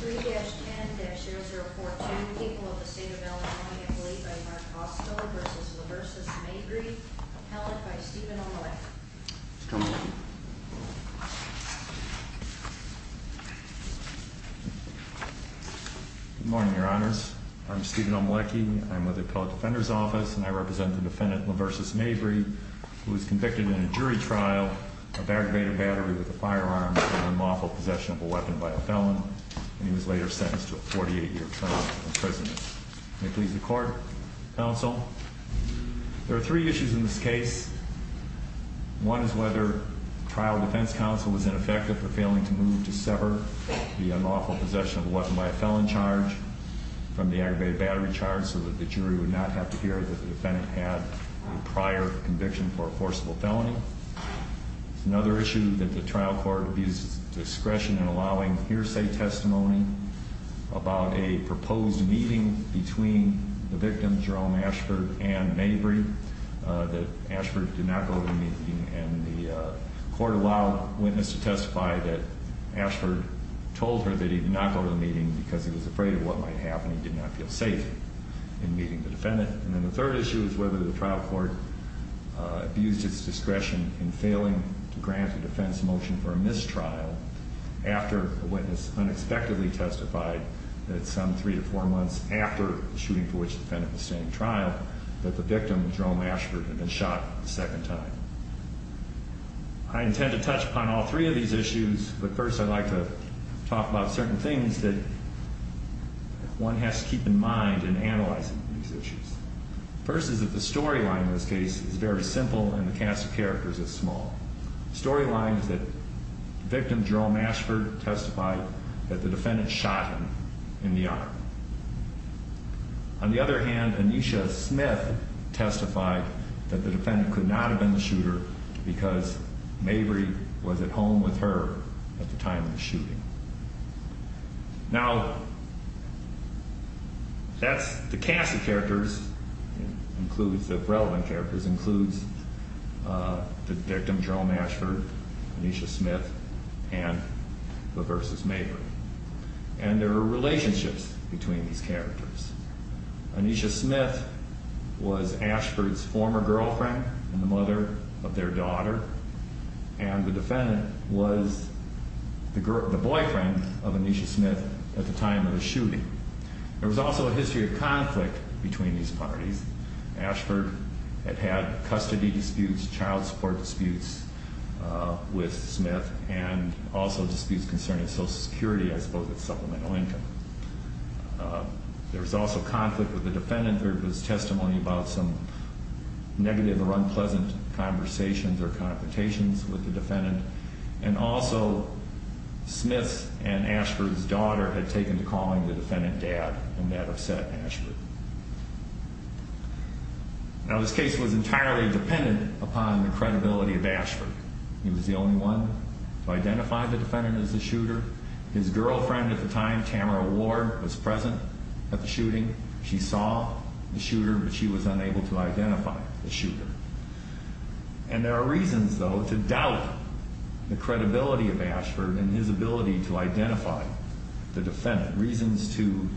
3-10-0042, people of the state of Illinois, a plea by Mark Hostler v. LaVersus Mabry, appellate by Steven Omelecki. Good morning, your honors. I'm Steven Omelecki. I'm with the Appellate Defender's Office, and I represent the defendant, LaVersus Mabry, who was convicted in a jury trial of aggravated battery with a firearm for the unlawful possession of a weapon by a felon, and he was later sentenced to a 48-year prison sentence. May it please the court, counsel. There are three issues in this case. One is whether trial defense counsel was ineffective for failing to move to sever the unlawful possession of a weapon by a felon charge from the aggravated battery charge so that the jury would not have to hear that the defendant had a prior conviction for a forcible felony. Another issue that the defense counsel did not go to the meeting was whether the trial court had been allowing hearsay testimony about a proposed meeting between the victim, Jerome Ashford, and Mabry, that Ashford did not go to the meeting, and the court allowed witness to testify that Ashford told her that he did not go to the meeting because he was afraid of what might happen. He did not feel safe in meeting the defendant. And then the third issue is whether the trial court abused its discretion in failing to grant a defense motion for a mistrial after a witness unexpectedly testified that some three to four months after the shooting for which the defendant was standing trial that the victim, Jerome Ashford, had been shot a second time. I intend to touch upon all three of these issues, but first I'd like to talk about certain things that one has to keep in mind in analyzing these issues. First is that the storyline in this case is very simple, and the cast of characters is small. The storyline is that the victim, Jerome Ashford, testified that the defendant shot him in the arm. On the other hand, Anisha Smith testified that the defendant could not have been the shooter because Mabry was at home with her at the time of the shooting. Now, the cast of characters includes the relevant characters includes the victim, Jerome Ashford, Anisha Smith, and the versus Mabry. And there are relationships between these characters. Anisha Smith was Ashford's former girlfriend and the mother of their daughter, and the defendant was the boyfriend of Anisha Smith at the time of the shooting. There was also a history of conflict between these parties. Ashford had had custody disputes, child support disputes with Smith, and also disputes concerning Social Security, I suppose, as supplemental income. There was also conflict with the defendant. There was testimony about some negative or unpleasant conversations or confrontations with the defendant, and also that Smith and Ashford's daughter had taken to calling the defendant dad and that upset Ashford. Now, this case was entirely dependent upon the credibility of Ashford. He was the only one to identify the defendant as the shooter. His girlfriend at the time, Tamara Ward, was present at the shooting. She saw the shooter, but she was unable to identify the shooter. And there are reasons, though, to doubt the credibility of Ashford and his ability to identify the defendant. Reasons to,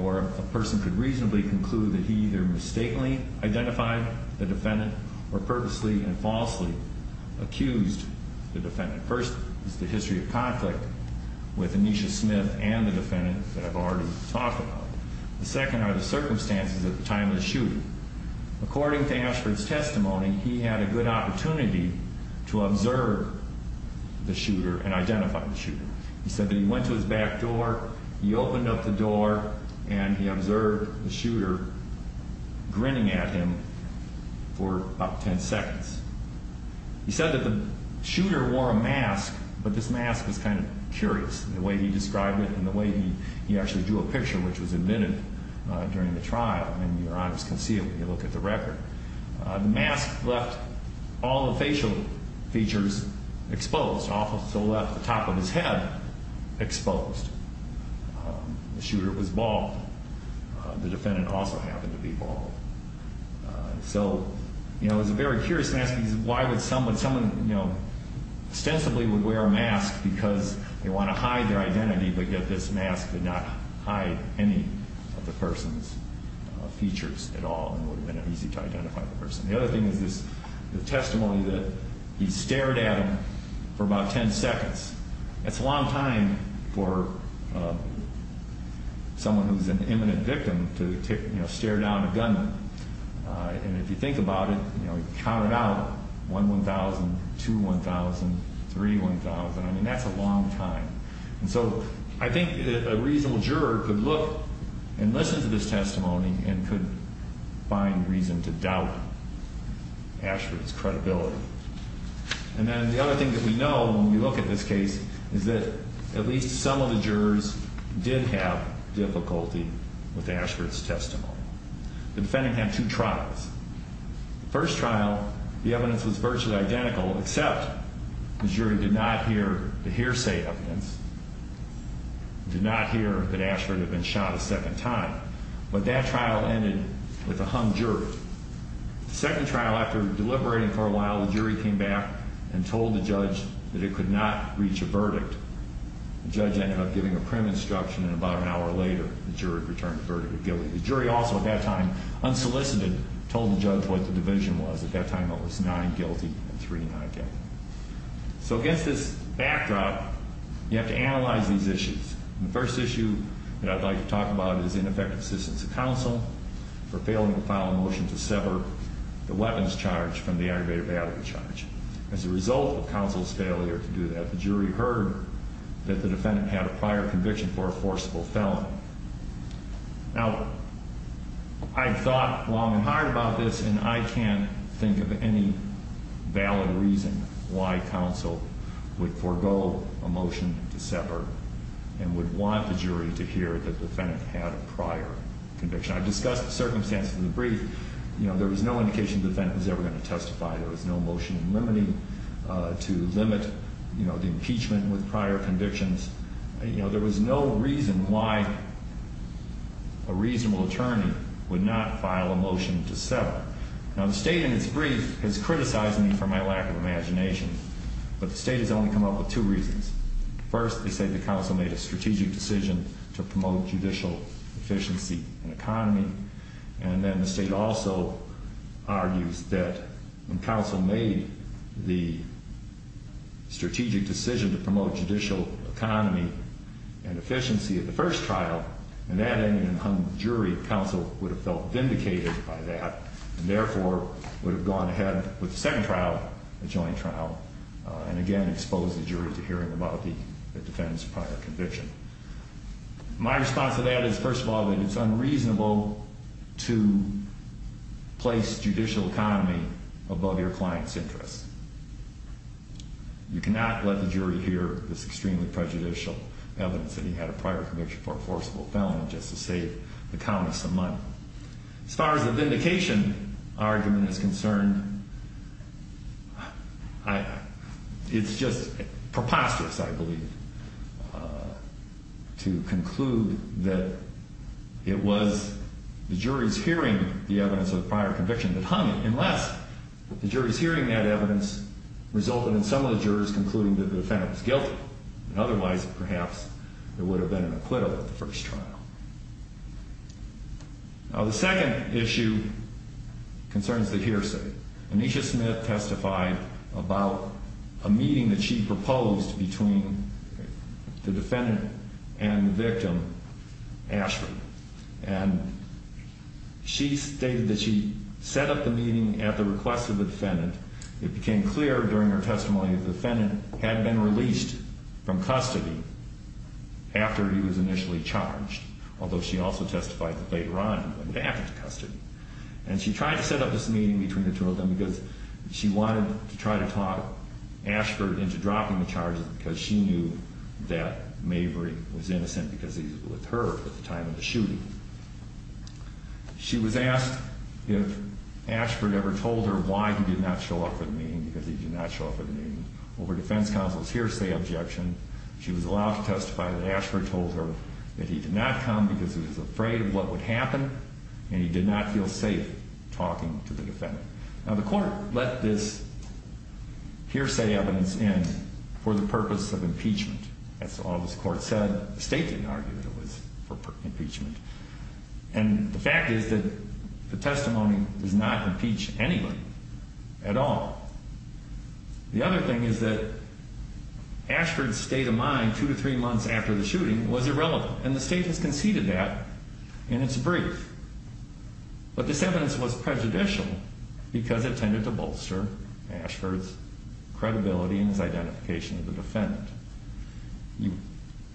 or a person could reasonably conclude that he either mistakenly identified the defendant or purposely and falsely accused the defendant. First is the history of conflict with Anisha Smith and the defendant that I've already talked about. The second are the circumstances at the time of the shooting. According to Ashford's testimony, he had a good opportunity to observe the shooter and identify the shooter. He said that he went to his back door, he opened up the door, and he observed the shooter grinning at him for about 10 seconds. He said that the shooter wore a mask, but this mask was kind of curious in the way he described it and the way he actually drew a picture, which was invented during the trial. I mean, your eyes can see it when you look at the record. The mask left all the facial features exposed. It also left the top of his head exposed. The shooter was bald. The defendant also happened to be bald. It was a very curious mask because why would someone ostensibly would wear a mask because they want to hide their identity, but yet this mask did not hide any of the person's features at all and would have been easy to identify the person. The other thing is the testimony that he stared at him for about 10 seconds. That's a long time for someone who's an imminent victim to stare down a gunman. And if you think about it, count it out, 1, 1,000, 2, 1,000, 3, 1,000. I mean, that's a long time. And so I think a reasonable juror could look and listen to this testimony and could find reason to doubt Ashford's credibility. And then the other thing that we know when we look at this case is that at least some of the jurors did have difficulty with Ashford's testimony. The defendant had two trials. The first trial, the evidence was virtually identical, except the jury did not hear the hearsay evidence, did not hear that evidence. But that trial ended with a hung jury. The second trial, after deliberating for a while, the jury came back and told the judge that it could not reach a verdict. The judge ended up giving a prim instruction, and about an hour later, the jury returned the verdict of guilty. The jury also at that time, unsolicited, told the judge what the division was. At that time, it was nine guilty and three not guilty. So against this backdrop, you have to analyze these issues. The first issue that I'd like to talk about is ineffective assistance of counsel for failing to file a motion to sever the weapons charge from the aggravated battery charge. As a result of counsel's failure to do that, the jury heard that the defendant had a prior conviction for a forcible felon. Now, I've thought long and hard about this, and I can't think of any valid reason why counsel would forego a motion to sever and would want the jury to hear that the defendant had a prior conviction. I've discussed the circumstances of the brief. There was no indication the defendant was ever going to testify. There was no motion limiting to limit the impeachment with prior convictions. There was no reason why a reasonable attorney would not file a motion to sever. Now, the state in its brief has criticized me for my lack of imagination, but the state has only come up with two reasons. First, they say the counsel made a strategic decision to promote judicial efficiency and economy. And then the state also argues that when counsel made the strategic decision to promote judicial economy and efficiency at the first trial, and that ended in a hung jury, counsel would have felt vindicated by that, and therefore would have gone ahead with the second trial, the joint trial, and again expose the jury to hearing about the defendant's prior conviction. My response to that is, first of all, that it's unreasonable to place judicial economy above your client's interests. You cannot let the jury hear this extremely prejudicial evidence that he had a prior conviction for a forcible felon just to save the countess some money. As far as the vindication argument is concerned, it's just preposterous, I believe, to conclude that it was the jury's hearing the evidence of the prior conviction that hung it, unless the jury's hearing that evidence resulted in some of the jurors concluding that the defendant was guilty, and otherwise, perhaps, there would have been an acquittal at the first trial. Now, the second issue concerns the hearsay. Aneesha Smith testified about a meeting that she proposed between the defendant and the victim, Ashford, and she stated that she set up the meeting at the request of the defendant. It became clear during her testimony that the defendant had been released from custody after he was initially charged, although she also testified that later on it would happen to custody. And she tried to set up this meeting between the two of them because she wanted to try to talk Ashford into dropping the charges because she knew that Maverick was innocent because he was with her at the time of the shooting. She was asked if Ashford ever told her why he did not show up for the meeting, because he did not show up for the meeting. Over defense counsel's hearsay objection, she was allowed to testify that Ashford told her that he did not come because he was afraid of what would happen and he did not feel safe talking to the defendant. Now, the court let this hearsay evidence in for the purpose of impeachment. That's all this court said. The state didn't argue that it was for impeachment. And the fact is that the testimony does not impeach anyone at all. The other thing is that Ashford's state of mind two to three months after the shooting was irrelevant. And the state has conceded that in its brief. But this evidence was prejudicial because it tended to bolster Ashford's credibility and his identification of the defendant. The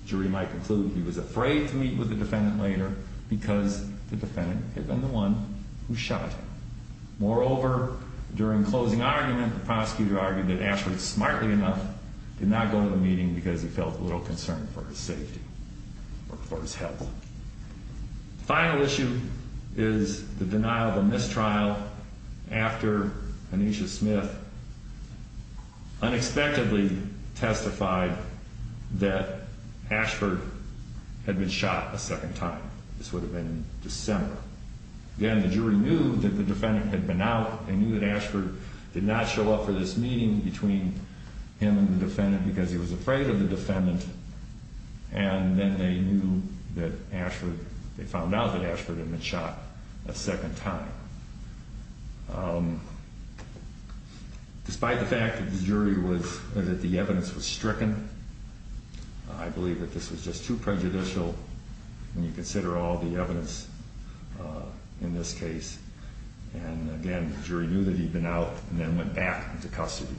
jury might conclude he was afraid to meet with the defendant later because the defendant had been the one who shot him. Moreover, during closing argument, the prosecutor argued that Ashford, smartly enough, did not go to the meeting because he felt a little concerned for his safety or for his health. Final issue is the denial of a mistrial after Anisha Smith unexpectedly testified that Ashford had been shot a second time. This would have been December. Again, the jury knew that the defendant had been out and knew that Ashford did not show up for this meeting between him and the defendant because he was afraid of the defendant and then they knew that Ashford, they found out that Ashford had been shot a second time. Despite the fact that the jury was, that the evidence was stricken, I believe that this was just too prejudicial when you consider all the evidence in this case. And again, the jury knew that he'd been out and then went back into custody.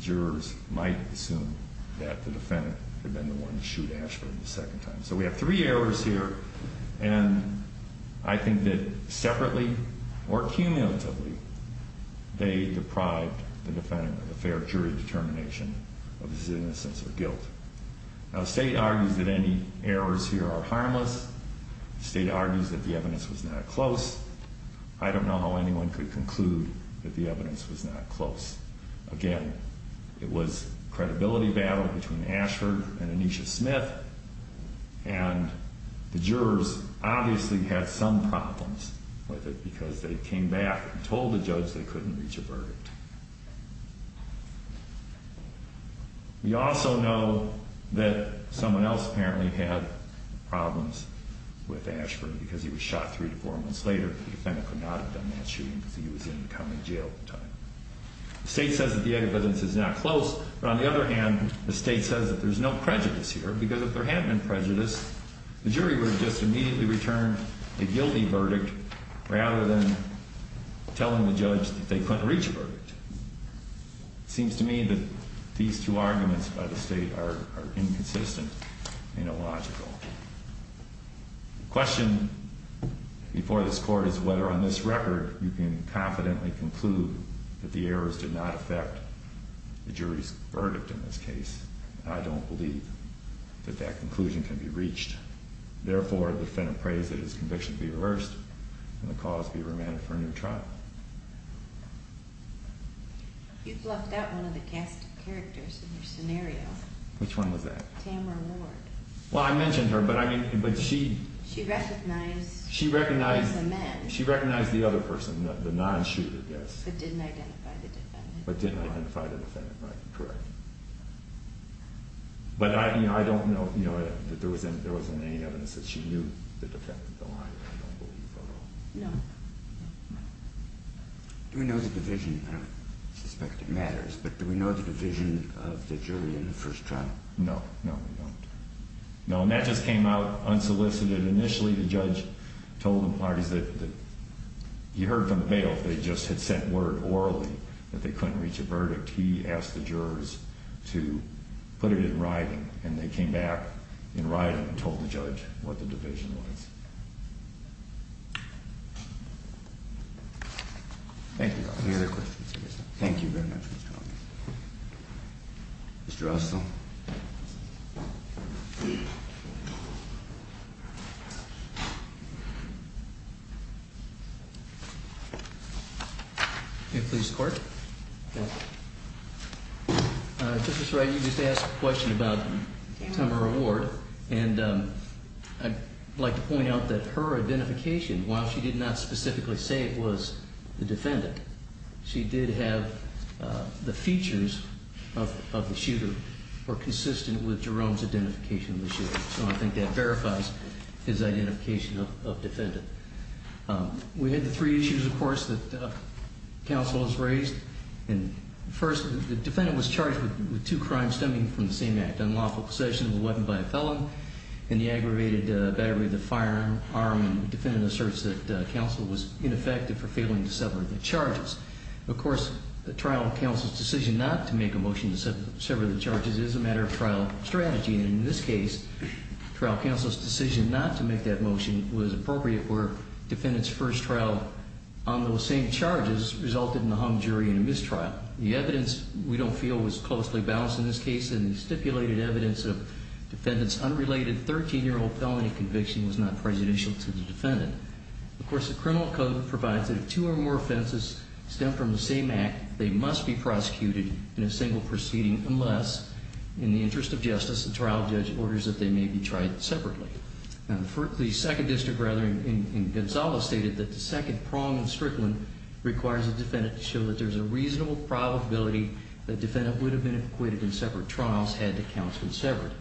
Jurors might assume that the defendant had been the one to shoot Ashford a second time. So we have three errors here and I think that separately or cumulatively, they deprived the defendant of a fair jury determination of his innocence or guilt. Now the state argues that any errors here are harmless. The state argues that the evidence was not close. I don't know how anyone could conclude that the evidence was not close. Again, it was a credibility battle between Ashford and Aneesha Smith and the jurors obviously had some problems with it because they came back and told the judge they couldn't reach a verdict. We also know that someone else apparently had problems with Ashford because he was shot three to four months later. The defendant could not have done that shooting because he was in the county jail at the time. The state says that the evidence is not close, but on the other hand, the state says that there's no prejudice here because if there had been prejudice, the jury would have just immediately returned a guilty verdict rather than telling the judge that they couldn't reach a verdict. It seems to me that these two arguments by the state are inconsistent and illogical. The question before this court is whether on this record you can confidently conclude that the errors did not affect the jury's verdict in this case. I don't believe that that conclusion can be reached. Therefore, the defendant prays that his conviction be reversed and the cause be remanded for a new trial. You've left out one of the cast characters in your scenario. Which one was that? Tamara Ward. Well, I mentioned her, but she recognized the other person, the non-shooter, yes. But didn't identify the defendant. But didn't identify the defendant, right, correct. But I don't know that there was any evidence that she knew the defendant, I don't believe at all. No. Do we know the division? I don't suspect it matters, but do we know the division of the jury in the first trial? No, no we don't. No, and that just came out unsolicited. Initially, the judge told the parties that he heard from bail. They just had sent word orally that they couldn't reach a verdict. He asked the jurors to put it in writing, and they came back in writing and told the judge what the division was. Thank you. Thank you very much. Mr. Russell. May it please the court? Justice Wright, you just asked a question about Tamara Ward, and I'd like to point out that her identification, while she did not specifically say it was the defendant, she did have the features of the shooter were consistent with Jerome's identification of the shooter. So I think that verifies his identification of defendant. We had the three issues, of course, that counsel has raised. First, the defendant was charged with two crimes stemming from the same act, unlawful possession of a weapon by a felon, and the aggravated battery of the firearm. Defendant asserts that counsel was ineffective for failing to sever the charges. Of course, the trial counsel's decision not to make a motion to sever the charges is a matter of trial strategy, and in this case, trial counsel's decision not to make that motion was appropriate where defendant's first trial on those same charges resulted in a hung jury and a mistrial. The evidence we don't feel was closely balanced in this case, and the stipulated evidence of defendant's unrelated 13-year-old felony conviction was not prejudicial to the defendant, but provides that if two or more offenses stem from the same act, they must be prosecuted in a single proceeding unless, in the interest of justice, the trial judge orders that they may be tried separately. The second district, rather, in Gonzales stated that the second prong in Strickland requires a defendant to show that there's a reasonable probability that defendant would have been acquitted in separate trials had the counsel severed.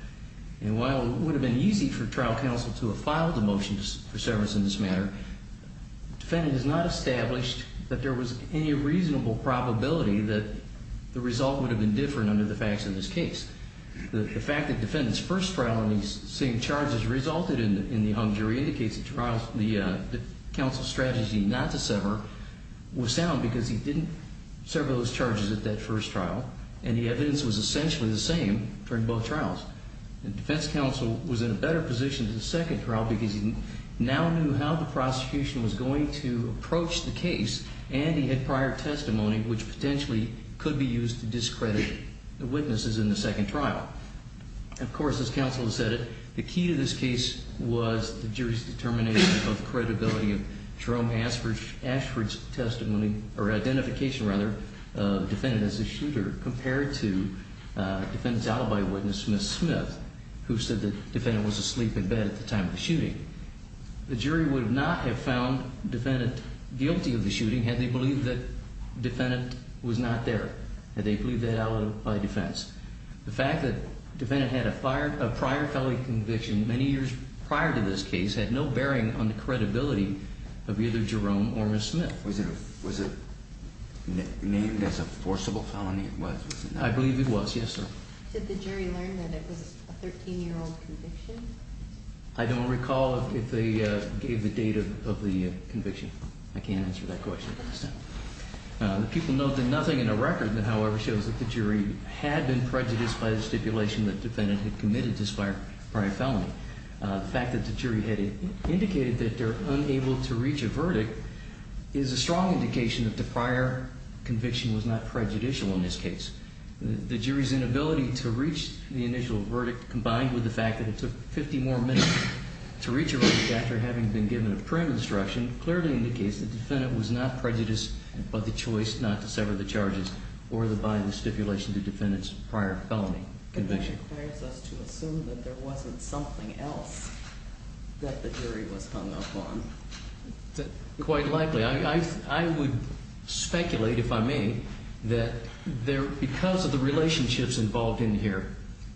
And while it would have been easy for trial counsel to have filed a motion for severance in this matter, the defendant has not established that there was any reasonable probability that the result would have been different under the facts of this case. The fact that defendant's first trial on these same charges resulted in the hung jury indicates the counsel's strategy not to sever was sound because he didn't sever those charges at that first trial, and the evidence was essentially the same during both trials. The defense counsel was in a better position to do the second trial because he now knew how the prosecution was going to approach the case, and he had prior testimony which potentially could be used to discredit the witnesses in the second trial. Of course, as counsel has said it, the key to this case was the jury's determination of credibility of Jerome Ashford's testimony, or identification, rather, of defendant as a shooter compared to defendant's alibi witness, Smith-Smith, who said the defendant was asleep in bed at the time of the shooting. The jury would not have found defendant guilty of the shooting had they believed that defendant was not there, had they believed that alibi defense. The fact that defendant had a prior felony conviction many years prior to this case had no bearing on the credibility of either Jerome or Ms. Smith. Was it named as a forcible felony? I believe it was, yes, sir. Did the jury learn that it was a 13-year-old conviction? I don't recall if they gave the date of the conviction. I can't answer that question at this time. People note that nothing in the record, however, shows that the jury had been prejudiced by the stipulation that defendant had committed this prior felony. The fact that the jury had indicated that they were unable to reach a verdict is a strong indication that the prior conviction was not prejudicial in this case. The jury's inability to reach the initial verdict combined with the fact that it took 50 more minutes to reach a verdict after having been given a prior instruction clearly indicates the defendant was not prejudiced by the choice not to sever the charges or by the stipulation of the defendant's prior felony conviction. That requires us to assume that there wasn't something else that the jury was hung up on. Quite likely. I would speculate, if I may, that because of the relationships involved in here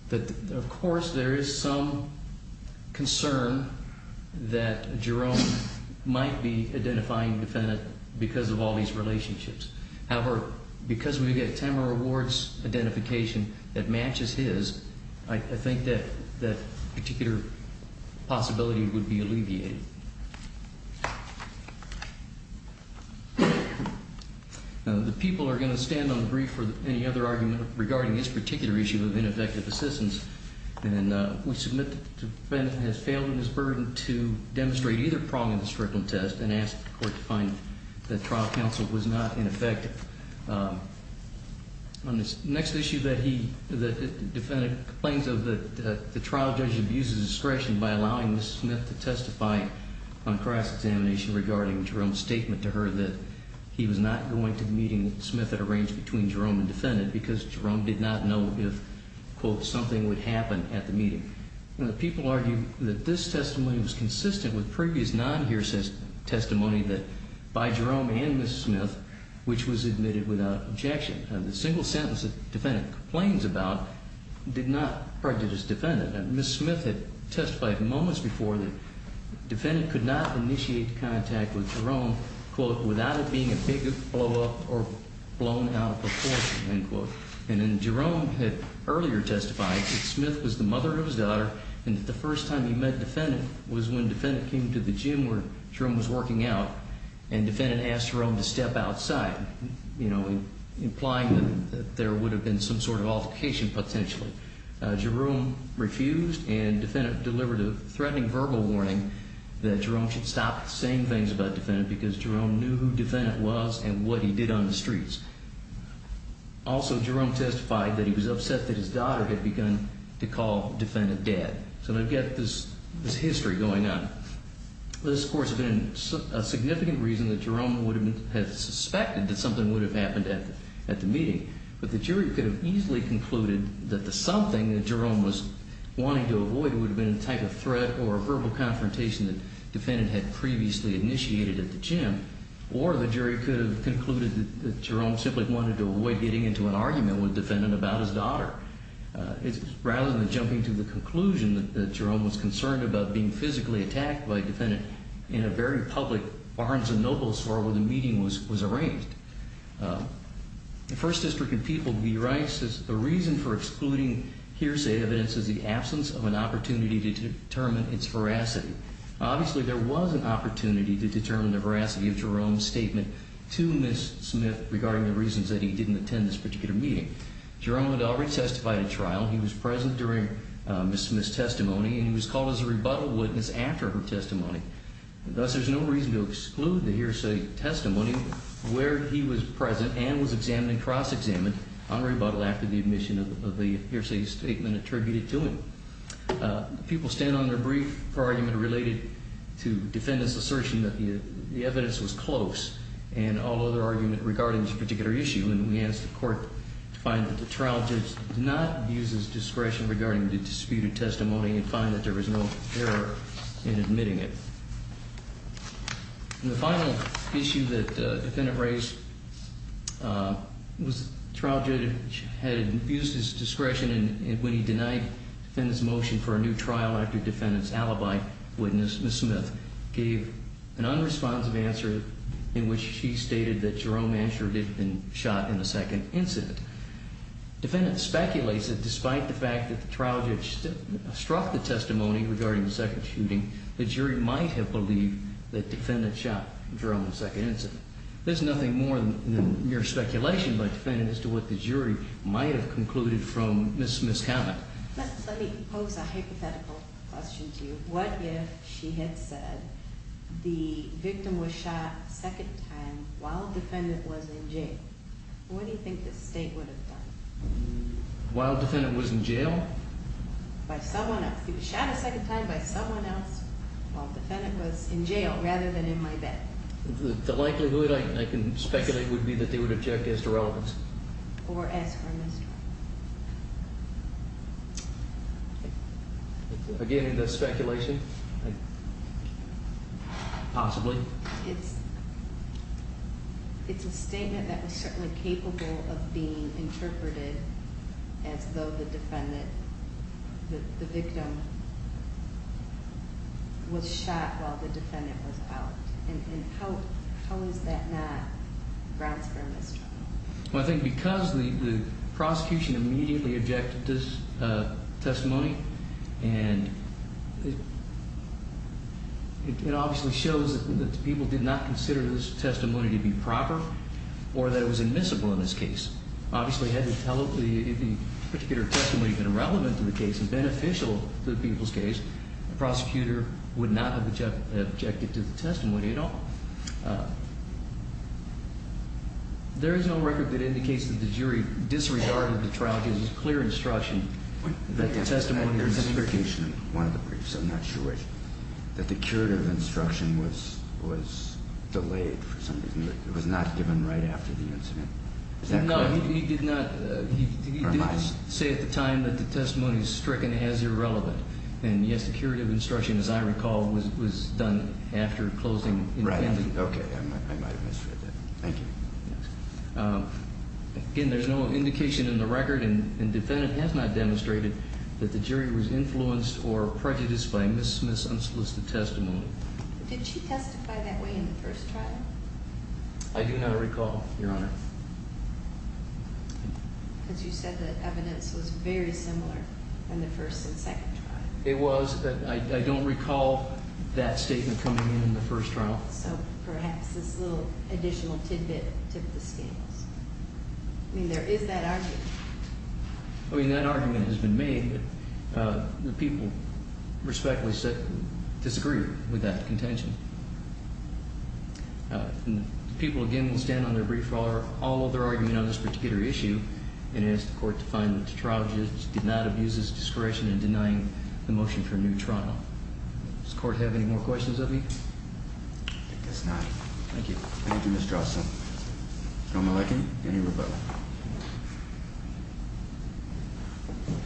that, of course, there is some concern that Jerome might be identifying the defendant because of all these relationships. However, because we get Tamara Ward's identification that matches his, I think that particular possibility would be alleviated. The people are going to stand on the brief for any other argument regarding this particular issue of ineffective assistance. We submit that the defendant has failed in his burden to demonstrate either prong of the Strickland test and ask the court to find that trial counsel was not ineffective. On this next issue, the defendant complains that the trial judge abuses discretion by allowing Ms. Smith to testify on cross-examination regarding Jerome's statement to her that he was not going to the meeting that Smith had arranged between Jerome and the defendant because Jerome did not know if, quote, something would happen at the meeting. The people argue that this testimony was consistent with previous non-hearsay testimony by Jerome and Ms. Smith, which was admitted without objection. The single sentence the defendant complains about did not prejudice the defendant. Ms. Smith had testified moments before that the defendant could not initiate contact with Jerome, quote, without it being a big blow-up or blown out of proportion, end quote. And then Jerome had earlier testified that Smith was the mother of his daughter and that the first time he met the defendant was when the defendant came to the gym where Jerome was working out and the defendant asked Jerome to step outside, you know, implying that there would have been some sort of altercation potentially. Jerome refused and the defendant delivered a threatening verbal warning that Jerome should stop saying things about the defendant because Jerome knew who the defendant was and what he did on the streets. Also, Jerome testified that he was upset that his daughter had begun to call the defendant dad. So they've got this history going on. This, of course, has been a significant reason that Jerome would have suspected that something would have happened at the meeting, but the jury could have easily concluded that the something that Jerome was wanting to avoid would have been a type of threat or a verbal confrontation that the defendant had previously initiated at the gym, or the jury could have concluded that Jerome simply wanted to avoid getting into an argument with the defendant about his daughter. Rather than jumping to the conclusion that Jerome was concerned about being physically attacked by a defendant in a very public Barnes & Noble store where the meeting was arranged. The First District and people to be right says the reason for excluding hearsay evidence is the absence of an opportunity to determine its veracity. Obviously there was an opportunity to determine the veracity of Jerome's statement to Ms. Smith regarding the reasons that he didn't attend this particular meeting. Jerome had already testified at trial. He was present during Ms. Smith's testimony and he was called as a rebuttal witness after her testimony. Thus there's no reason to exclude the hearsay testimony where he was examined and cross-examined on rebuttal after the admission of the hearsay statement attributed to him. People stand on their brief argument related to defendant's assertion that the evidence was close and all other argument regarding this particular issue and we ask the court to find that the trial judge did not use his discretion regarding the disputed testimony and find that there was no error in admitting it. The final issue that the trial judge had used his discretion when he denied defendant's motion for a new trial after defendant's alibi witness Ms. Smith gave an unresponsive answer in which she stated that Jerome Manchur didn't have been shot in the second incident. Defendant speculates that despite the fact that the trial judge struck the testimony regarding the second shooting, the jury might have believed that defendant shot Jerome in the second incident. There's nothing more than mere speculation by defendant as to what the jury might have concluded from Ms. Smith's comment. Let me pose a hypothetical question to you. What if she had said the victim was shot a second time while defendant was in jail? What do you think the state would have done? While defendant was in jail? By someone else. He was shot a second time by someone else while defendant was in jail rather than in my bed. The likelihood I can speculate would be that they would object as to relevance. Or as for Mr. Again in this speculation possibly. It's a statement that was certainly capable of being interpreted as though the defendant the victim was shot while the defendant was out. How is that not grounds for a misdemeanor? I think because the prosecution immediately objected to this testimony and it obviously shows that the people did not consider this testimony to be proper or that it was admissible in this case. Obviously had the particular testimony been relevant to the case and beneficial to the people's case the prosecutor would not have objected to the testimony at all. There is no record that indicates that the jury disregarded the trial because it was clear instruction that the testimony was that the curative instruction was delayed for some reason. It was not given right after the incident. He did not say at the time that the testimony was stricken as irrelevant and yes the curative instruction as I recall was done after closing. Again there is no indication in the record and the defendant has not demonstrated that the jury was influenced or prejudiced by Ms. Smith's unsolicited testimony. Did she testify that way in the first trial? I do not recall, Your Honor. Because you said that evidence was very similar in the first and second trial. It was but I don't recall that statement coming in in the first trial. So perhaps this little additional tidbit tip of the scales. I mean there is that argument. I mean that argument has been made that the people respectfully disagree with that contention. The people again will stand on their brief for all of their argument on this particular issue and ask the court to find that the trial judge did not abuse his discretion in denying the motion for a new trial. Does the court have any more questions of me? I guess not. Thank you. Thank you, Ms. Drossin. Mr. O'Maleky, any rebuttal? Why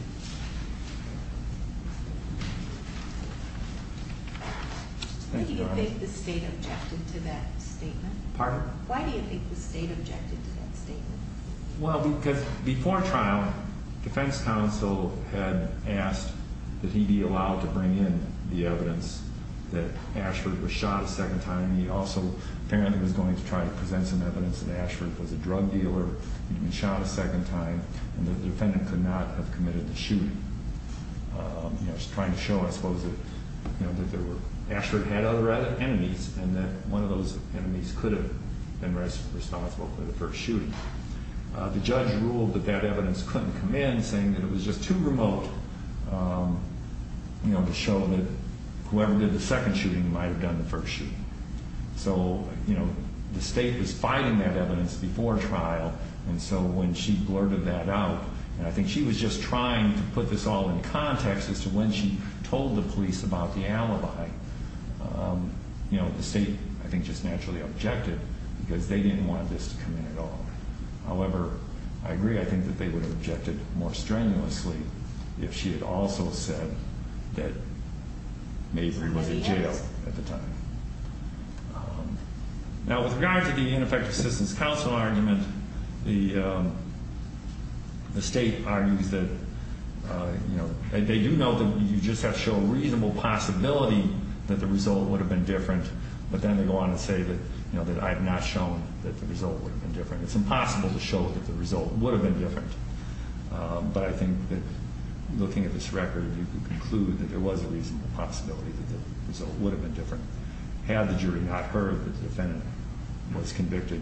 do you think the state objected to that statement? Well, because before trial, defense counsel had asked that he be allowed to bring in the evidence that Ashford was shot a second time. He also apparently was going to try to present some evidence that Ashford was a drug dealer and he'd been shot a second time and that the defendant could not have committed the shooting. I was trying to show, I suppose, that Ashford had other enemies and that one of those enemies could have been responsible for the first shooting. The judge ruled that that evidence couldn't come in, saying that it was just too remote to show that whoever did the second shooting might have done the first shooting. So the state was fighting that evidence before trial and so when she blurted that out, and I think she was just trying to put this all in context as to when she told the police about the alibi, the state, I think, just naturally objected because they didn't want this to come in at all. However, I agree, I think that they would have objected more strenuously if she had also said that Mabry was in jail at the time. Now, with regard to the ineffective assistance counsel argument, the state argues that they do know that you just have to show reasonable possibility that the result would have been different, but then they go on and say that I have not shown that the result would have been different. It's impossible to show that the result would have been different, but I think that looking at this record, you can conclude that there was a reasonable possibility that the result would have been different had the jury not heard that the defendant was convicted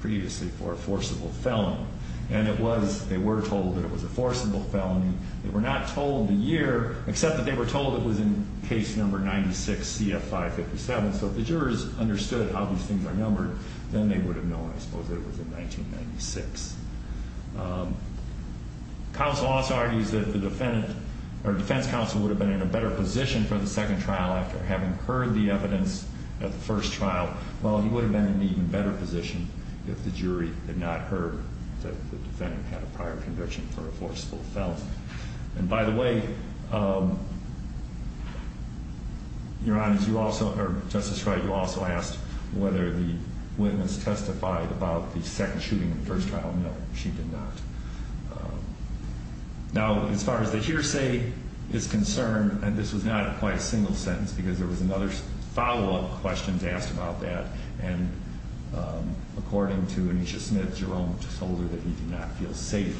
previously for a forcible felony. And it was, they were told that it was a forcible felony. They were not told the year, except that they were told it was in case number 96CF557, so if the jurors understood how these things are numbered, then they would have known, I suppose, that it was in 1996. Counsel also argues that the defendant or defense counsel would have been in a better position for the second trial after having heard the evidence at the first trial. Well, he would have been in an even better position if the jury had not heard that the defendant had a prior conviction for a forcible felony. And by the way, Your Honor, you also, or Justice Wright, you also asked whether the witness testified about the second shooting in the first trial. No, she did not. Now, as far as the hearsay is concerned, and this was not quite a single sentence because there was another follow-up question asked about that, and according to Anisha Smith, Jerome told her that he did not feel safe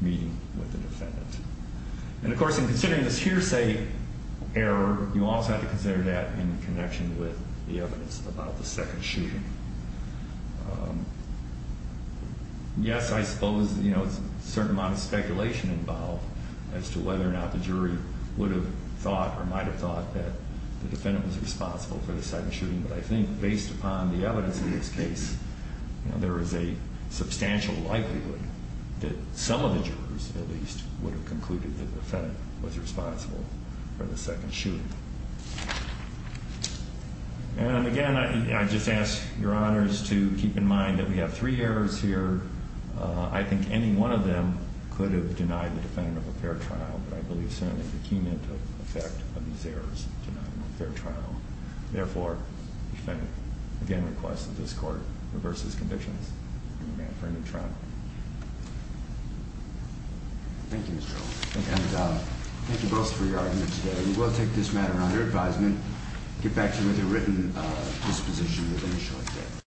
meeting with the defendant. And of course, in considering this hearsay error, you also have to consider that in connection with the evidence about the second shooting. Yes, I suppose there's a certain amount of speculation involved as to whether or not the jury would have thought or might have thought that the defendant was responsible for the second shooting, but I think based upon the evidence in this case, there is a substantial likelihood that some of the jurors, at least, would have concluded that the defendant was responsible for the second shooting. And again, I just ask Your Honors to keep in mind that we have three errors here. I think any one of them could have denied the defendant of a fair trial, but I believe certainly the cumulative effect of these errors denied him a fair trial. Therefore, the defendant again requests that this Court reverses conditions and demand for a new trial. Thank you, Mr. Earl. And thank you both for your argument today. We will take this matter under advisement and get back to you with a written disposition within a short time.